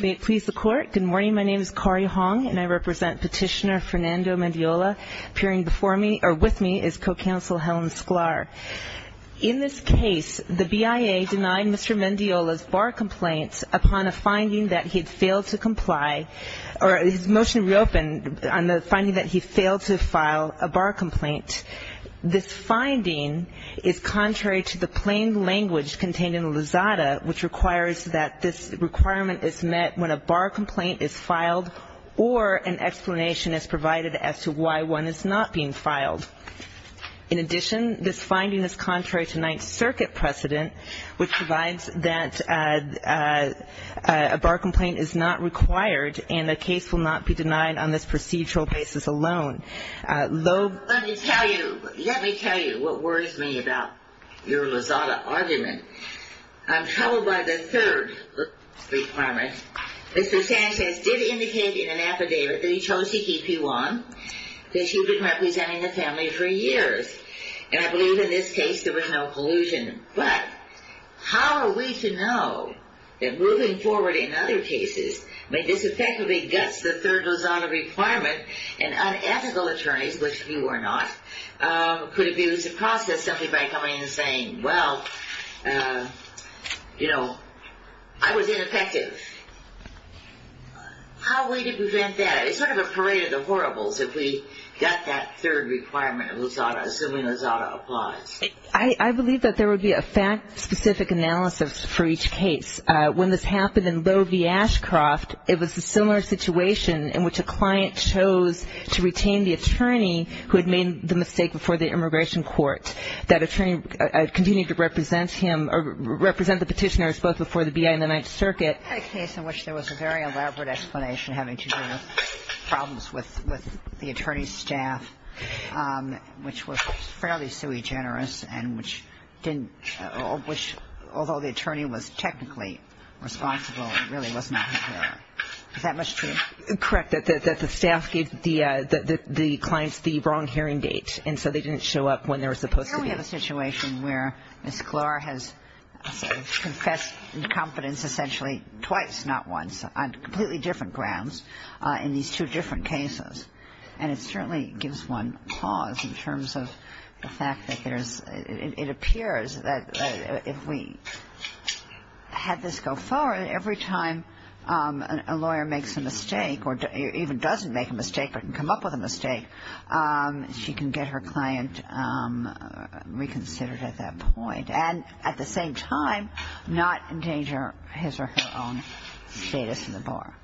May it please the Court, good morning, my name is Corrie Hong and I represent Petitioner Fernando Mendiola, appearing before me, or with me, is Co-Counsel Helen Sklar. In this case, the BIA denied Mr. Mendiola's bar complaint upon a finding that he had failed to comply, or his motion reopened on the finding that he failed to file a bar complaint. This finding is contrary to the plain language contained in the Lizada, which requires that this requirement is met when a bar complaint is filed, or an explanation is provided as to why one is not being filed. In addition, this finding is contrary to Ninth Circuit precedent, which provides that a bar complaint is not required and a case will not be denied on this procedural basis alone. Let me tell you what worries me about your Lizada argument. I'm troubled by the third requirement. Mr. Sanchez did indicate in an affidavit that he chose to keep you on, that you've been representing the family for years, and I believe in this case there was no collusion. But how are we to know that moving forward in other cases may disaffectively guts the third Lizada requirement, and unethical attorneys, which you are not, could abuse the process simply by coming in and saying, well, you know, I was ineffective. How are we to prevent that? It's sort of a parade of the horribles if we gut that third requirement of Lizada, assuming Lizada applies. I believe that there would be a fact-specific analysis for each case. When this happened in Lowe v. Ashcroft, it was a similar situation in which a client chose to retain the attorney who had made the mistake before the immigration court. That attorney continued to represent him or represent the petitioners both before the B.I. and the Ninth Circuit. But in a case in which there was a very elaborate explanation having to do with problems with the attorney's staff, which was fairly sui generis, and which didn't which, although the attorney was technically responsible, it really was not his fault. Is that much true? Correct, that the staff gave the clients the wrong hearing date, and so they didn't show up when they were supposed to be. Well, here we have a situation where Ms. Glor has confessed incompetence essentially twice, not once, on completely different grounds in these two different cases. And it certainly gives one pause in terms of the fact that there's – it appears that if we had this go forward, that every time a lawyer makes a mistake or even doesn't make a mistake but can come up with a mistake, she can get her client reconsidered at that point, and at the same time not endanger his or her own status in the bar.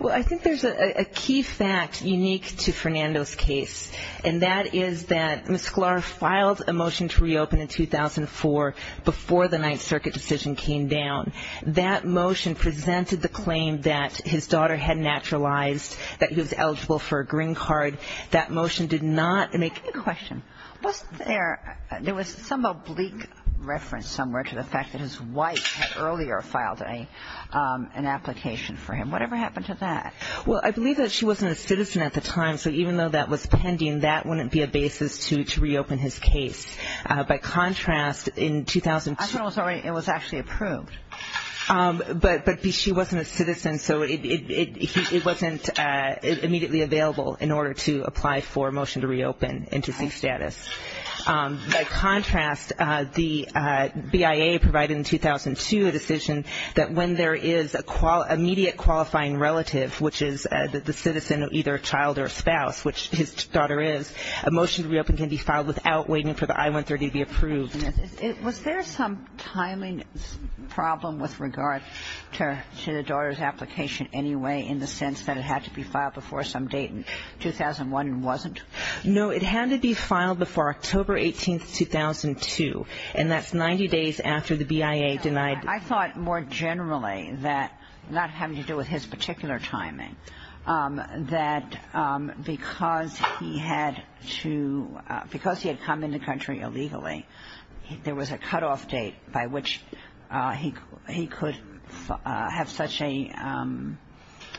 Well, I think there's a key fact unique to Fernando's case, and that is that Ms. Glor filed a motion to reopen in 2004 before the Ninth Circuit decision came down. That motion presented the claim that his daughter had naturalized, that he was eligible for a green card. That motion did not make – I have a question. Wasn't there – there was some oblique reference somewhere to the fact that his wife had earlier filed an application for him. Whatever happened to that? Well, I believe that she wasn't a citizen at the time, so even though that was pending, that wouldn't be a basis to reopen his case. By contrast, in 2002 – I thought it was actually approved. But she wasn't a citizen, so it wasn't immediately available in order to apply for a motion to reopen and to seek status. By contrast, the BIA provided in 2002 a decision that when there is an immediate qualifying relative, which is the citizen of either a child or a spouse, which his daughter is, a motion to reopen can be filed without waiting for the I-130 to be approved. Was there some timing problem with regard to the daughter's application anyway, in the sense that it had to be filed before some date in 2001 and wasn't? No. It had to be filed before October 18th, 2002, and that's 90 days after the BIA denied – I thought more generally that, not having to do with his particular timing, that because he had to – because he had come into country illegally, there was a cutoff date by which he could have such an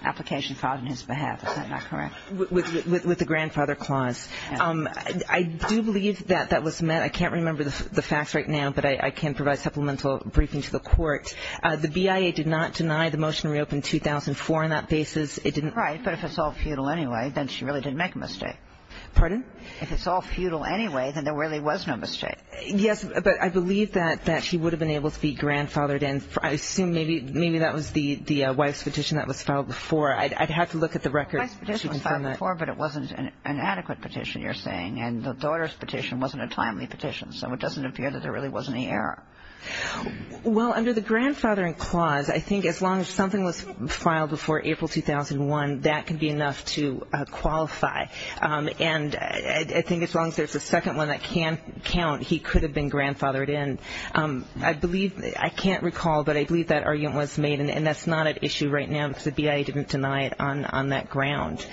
application filed on his behalf. Is that not correct? With the grandfather clause. I do believe that that was met. I can't remember the facts right now, but I can provide supplemental briefing to the court. The BIA did not deny the motion to reopen 2004 on that basis. It didn't – Right, but if it's all futile anyway, then she really didn't make a mistake. Pardon? If it's all futile anyway, then there really was no mistake. Yes, but I believe that she would have been able to be grandfathered in – I assume maybe that was the wife's petition that was filed before. I'd have to look at the records to confirm that. The wife's petition was filed before, but it wasn't an adequate petition, you're saying, and the daughter's petition wasn't a timely petition, so it doesn't appear that there really was any error. Well, under the grandfathering clause, I think as long as something was filed before April 2001, that could be enough to qualify, and I think as long as there's a second one that can count, he could have been grandfathered in. I believe – I can't recall, but I believe that argument was made, and that's not at issue right now because the BIA didn't deny it on that ground.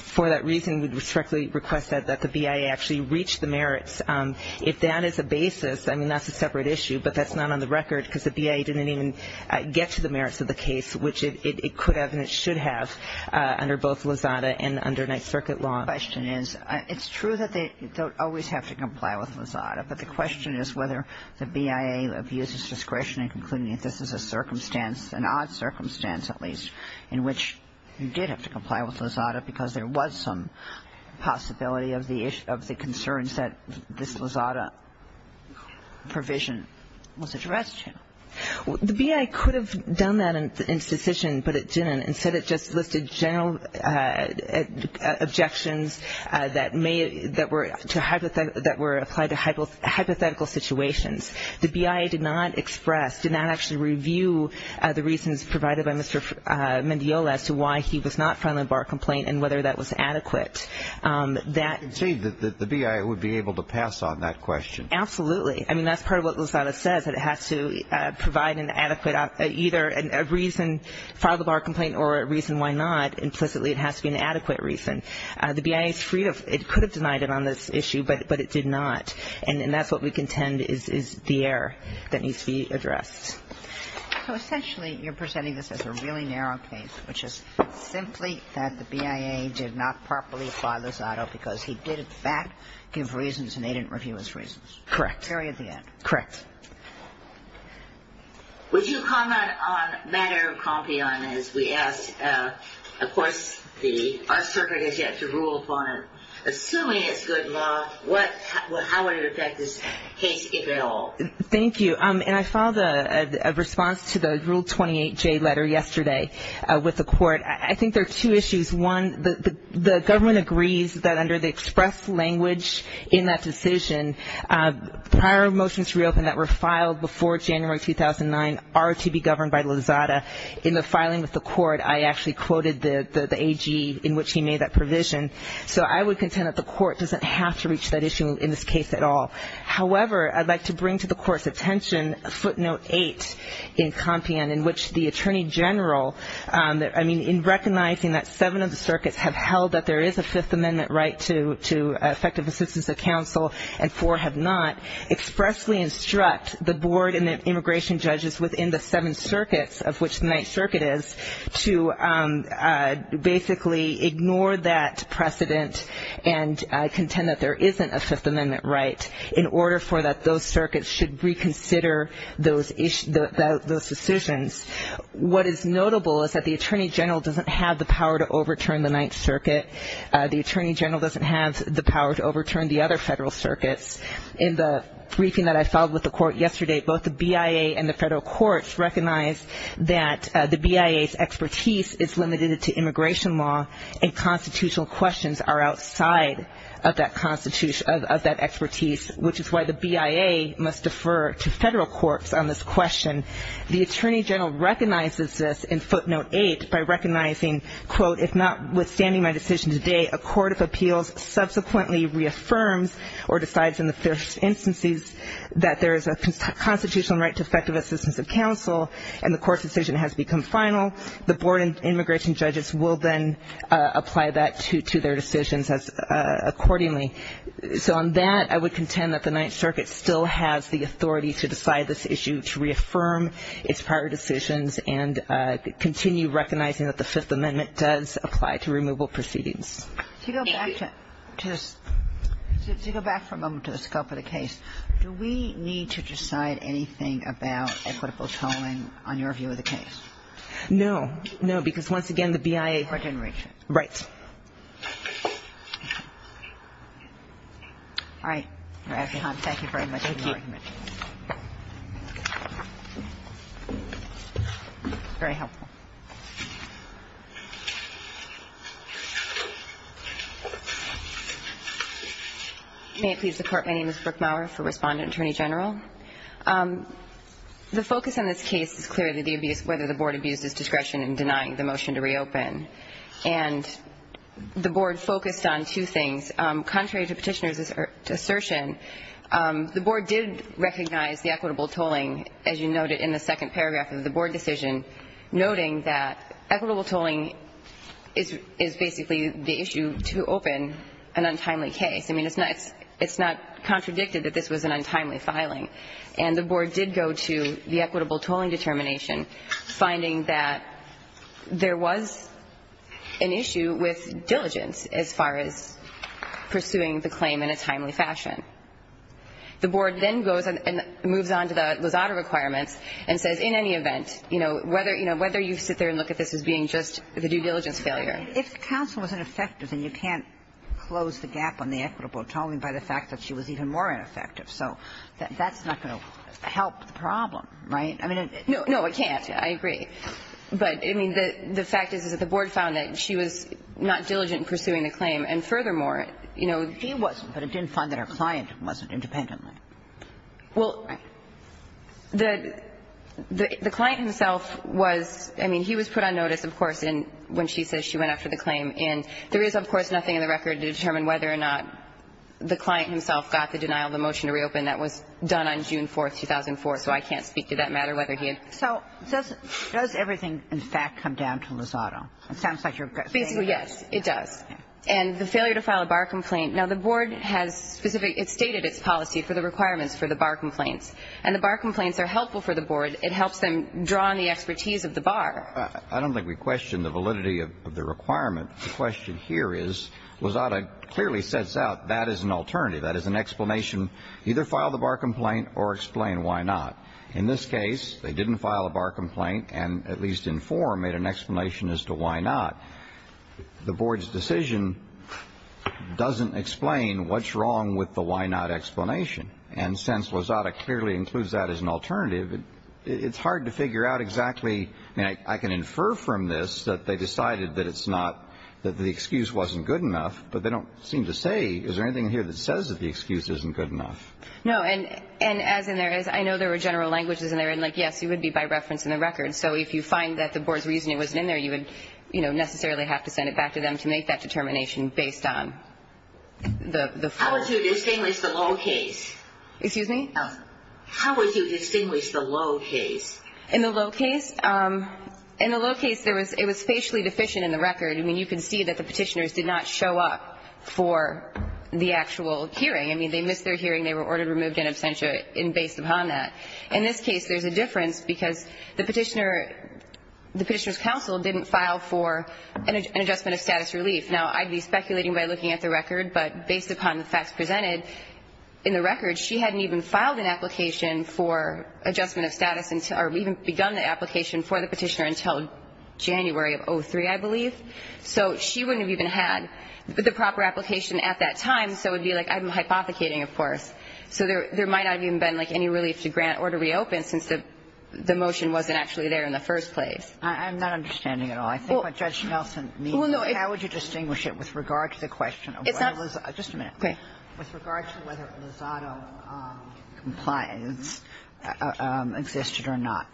For that reason, we respectfully request that the BIA actually reach the merits. If that is the basis, I mean, that's a separate issue, but that's not on the record because the BIA didn't even get to the merits of the case, which it could have and it should have under both Lozada and under Ninth Circuit law. My question is, it's true that they don't always have to comply with Lozada, but the question is whether the BIA abuses discretion in concluding that this is a circumstance, an odd circumstance at least, in which you did have to comply with Lozada because there was some possibility of the concerns that this Lozada provision was addressed to. The BIA could have done that in its decision, but it didn't. Instead, it just listed general objections that were applied to hypothetical situations. The BIA did not express, did not actually review the reasons provided by Mr. Mendiola as to why he was not filing a bar complaint and whether that was adequate. That — You can say that the BIA would be able to pass on that question. Absolutely. I mean, that's part of what Lozada says, that it has to provide an adequate, either a reason to file the bar complaint or a reason why not. Implicitly, it has to be an adequate reason. The BIA is free to — it could have denied it on this issue, but it did not. And that's what we contend is the error that needs to be addressed. So essentially, you're presenting this as a really narrow case, which is simply that the BIA did not properly file Lozada because he did, in fact, give reasons and they didn't review his reasons. Correct. Very at the end. Correct. Would you comment on the matter of Compion, as we asked? Of course, the arts circuit has yet to rule upon it. Assuming it's good law, how would it affect this case if at all? Thank you. And I filed a response to the Rule 28J letter yesterday with the court. I think there are two issues. One, the government agrees that under the express language in that decision, prior motions reopened that were filed before January 2009 are to be governed by Lozada. In the filing with the court, I actually quoted the AG in which he made that provision. So I would contend that the court doesn't have to reach that issue in this case at all. However, I'd like to bring to the court's attention footnote eight in Compion, in which the Attorney General, I mean, in recognizing that seven of the circuits have held that there is a Fifth Amendment right to effective assistance of counsel and four have not, expressly instruct the board and the immigration judges within the seven circuits, of which the Ninth Circuit is, to basically ignore that precedent and contend that there isn't a Fifth Amendment right in order for that those circuits should reconsider those decisions. What is notable is that the Attorney General doesn't have the power to overturn the Ninth Circuit. The Attorney General doesn't have the power to overturn the other federal circuits. In the briefing that I filed with the court yesterday, both the BIA and the federal courts recognized that the BIA's expertise is limited to immigration law and constitutional questions are outside of that expertise, which is why the BIA must defer to federal courts on this question. The Attorney General recognizes this in footnote eight by recognizing, quote, if notwithstanding my decision today, a court of appeals subsequently reaffirms or decides in the first instances that there is a constitutional right to effective assistance of counsel and the court's decision has become final. The board and immigration judges will then apply that to their decisions accordingly. So on that, I would contend that the Ninth Circuit still has the authority to decide this issue, to reaffirm its prior decisions, and continue recognizing that the Fifth Amendment does apply to removal proceedings. Thank you. To go back for a moment to the scope of the case, do we need to decide anything about equitable tolling on your view of the case? No. No, because once again, the BIA. Right. All right. Thank you very much. Thank you. Very helpful. May it please the Court, my name is Brooke Maurer for Respondent Attorney General. The focus on this case is clearly the abuse, whether the board abuses discretion in denying the motion to reopen. And the board focused on two things. Contrary to Petitioner's assertion, the board did recognize the equitable tolling, as you noted in the second paragraph of the board decision, noting that equitable tolling is basically the issue to open an untimely case. I mean, it's not contradicted that this was an untimely filing. And the board did go to the equitable tolling determination, finding that there was an issue with diligence as far as pursuing the claim in a timely fashion. The board then goes and moves on to the Lozada requirements and says in any event, you know, whether you sit there and look at this as being just the due diligence failure. If counsel was ineffective, then you can't close the gap on the equitable tolling by the fact that she was even more ineffective. So that's not going to help the problem, right? I mean, it's not. No, it can't. I agree. But, I mean, the fact is, is that the board found that she was not diligent in pursuing the claim. And furthermore, you know, he wasn't, but it didn't find that her client wasn't independently. Well, the client himself was, I mean, he was put on notice, of course, when she says she went after the claim. And there is, of course, nothing in the record to determine whether or not the client himself got the denial of a motion to reopen that was done on June 4th, 2004. So I can't speak to that matter, whether he had. So does everything, in fact, come down to Lozada? It sounds like you're saying that. Basically, yes, it does. And the failure to file a bar complaint. Now, the board has specifically stated its policy for the requirements for the bar complaints. And the bar complaints are helpful for the board. It helps them draw on the expertise of the bar. I don't think we question the validity of the requirement. The question here is Lozada clearly sets out that is an alternative. That is an explanation. Either file the bar complaint or explain why not. In this case, they didn't file a bar complaint and at least in form made an explanation as to why not. The board's decision doesn't explain what's wrong with the why not explanation. And since Lozada clearly includes that as an alternative, it's hard to figure out exactly. I can infer from this that they decided that it's not, that the excuse wasn't good enough. But they don't seem to say, is there anything here that says that the excuse isn't good enough? No. And as in there is, I know there were general languages in there. And, like, yes, it would be by reference in the record. So if you find that the board's reasoning wasn't in there, you would, you know, necessarily have to send it back to them to make that determination based on the form. How would you distinguish the low case? Excuse me? How would you distinguish the low case? In the low case, in the low case, there was, it was facially deficient in the record. I mean, you can see that the Petitioners did not show up for the actual hearing. I mean, they missed their hearing. They were ordered, removed, and absentia based upon that. In this case, there's a difference because the Petitioner, the Petitioner's counsel didn't file for an adjustment of status relief. Now, I'd be speculating by looking at the record. But based upon the facts presented in the record, she hadn't even filed an application for adjustment of status or even begun the application for the Petitioner until January of 2003, I believe. So she wouldn't have even had the proper application at that time. So it would be like I'm hypothecating, of course. So there might not have even been, like, any relief to grant or to reopen since the motion wasn't actually there in the first place. I'm not understanding at all. I think what Judge Nelson means is how would you distinguish it with regard to the question of whether Lizado. It's not. Just a minute. Okay. With regard to whether Lizado compliance existed or not.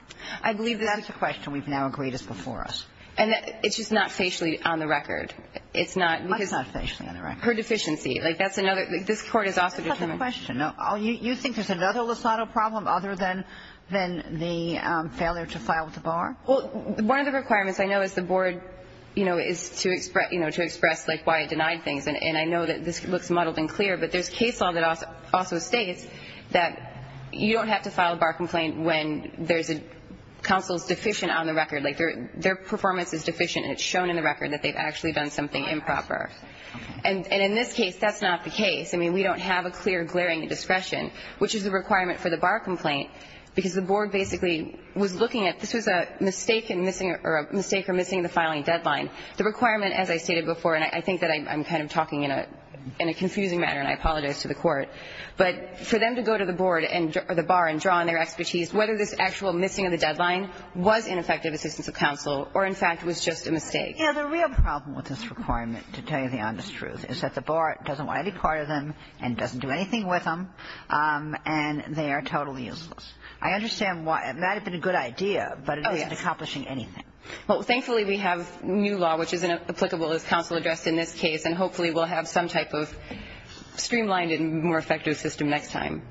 I believe that's a question we've now agreed is before us. And it's just not facially on the record. It's not. It's not facially on the record. Her deficiency. Like, that's another. This Court has also determined. That's not the question. You think there's another Lizado problem other than the failure to file the bar? Well, one of the requirements I know is the Board, you know, is to express, you know, to express, like, why it denied things. And I know that this looks muddled and clear. But there's case law that also states that you don't have to file a bar complaint when there's a counsel's deficient on the record. Like, their performance is deficient and it's shown in the record that they've actually done something improper. And in this case, that's not the case. I mean, we don't have a clear glaring discretion, which is a requirement for the bar complaint because the Board basically was looking at this was a mistake in missing or a mistake for missing the filing deadline. The requirement, as I stated before, and I think that I'm kind of talking in a confusing manner, and I apologize to the Court. But for them to go to the Board or the bar and draw on their expertise, whether this actual missing of the deadline was ineffective assistance of counsel or, in fact, was just a mistake. You know, the real problem with this requirement, to tell you the honest truth, is that the bar doesn't want any part of them and doesn't do anything with them, and they are totally useless. I understand why. It might have been a good idea, but it isn't accomplishing anything. Well, thankfully, we have new law, which is applicable as counsel addressed in this case. And hopefully we'll have some type of streamlined and more effective system next time.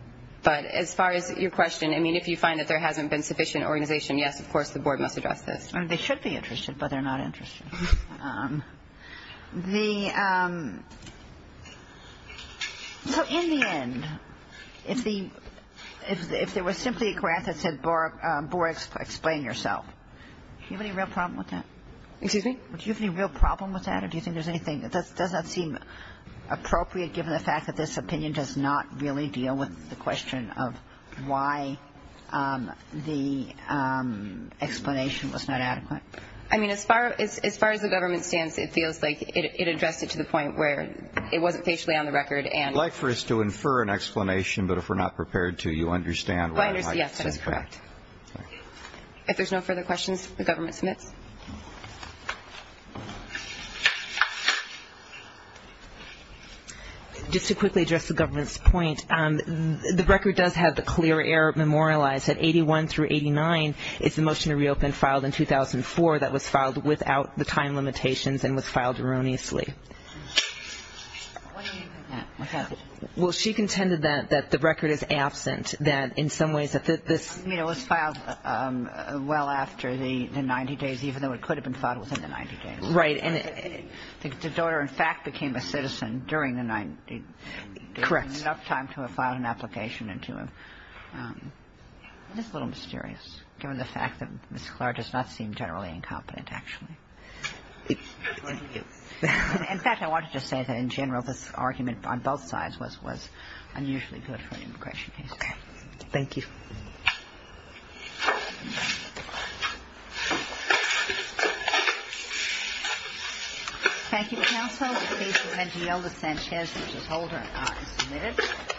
But as far as your question, I mean, if you find that there hasn't been sufficient organization, yes, of course, the Board must address this. They should be interested, but they're not interested. So in the end, if there was simply a grant that said, if there's no further questions, the government submits. Just to quickly address the government's point, the record does have the clear error memorialized that 81 through 89 is the motion to reopen filed in 2004 that was filed without the time limitations and was filed erroneously. Well, she contended that the record is absent, that in some ways that this was a mistake. I mean, it was filed well after the 90 days, even though it could have been filed within the 90 days. Right. And the daughter, in fact, became a citizen during the 90 days. Correct. Enough time to have filed an application and to have. It's a little mysterious, given the fact that Ms. Clark does not seem generally incompetent, actually. In fact, I wanted to say that in general, this argument on both sides was unusually good for an immigration case. Okay. Thank you. Thank you.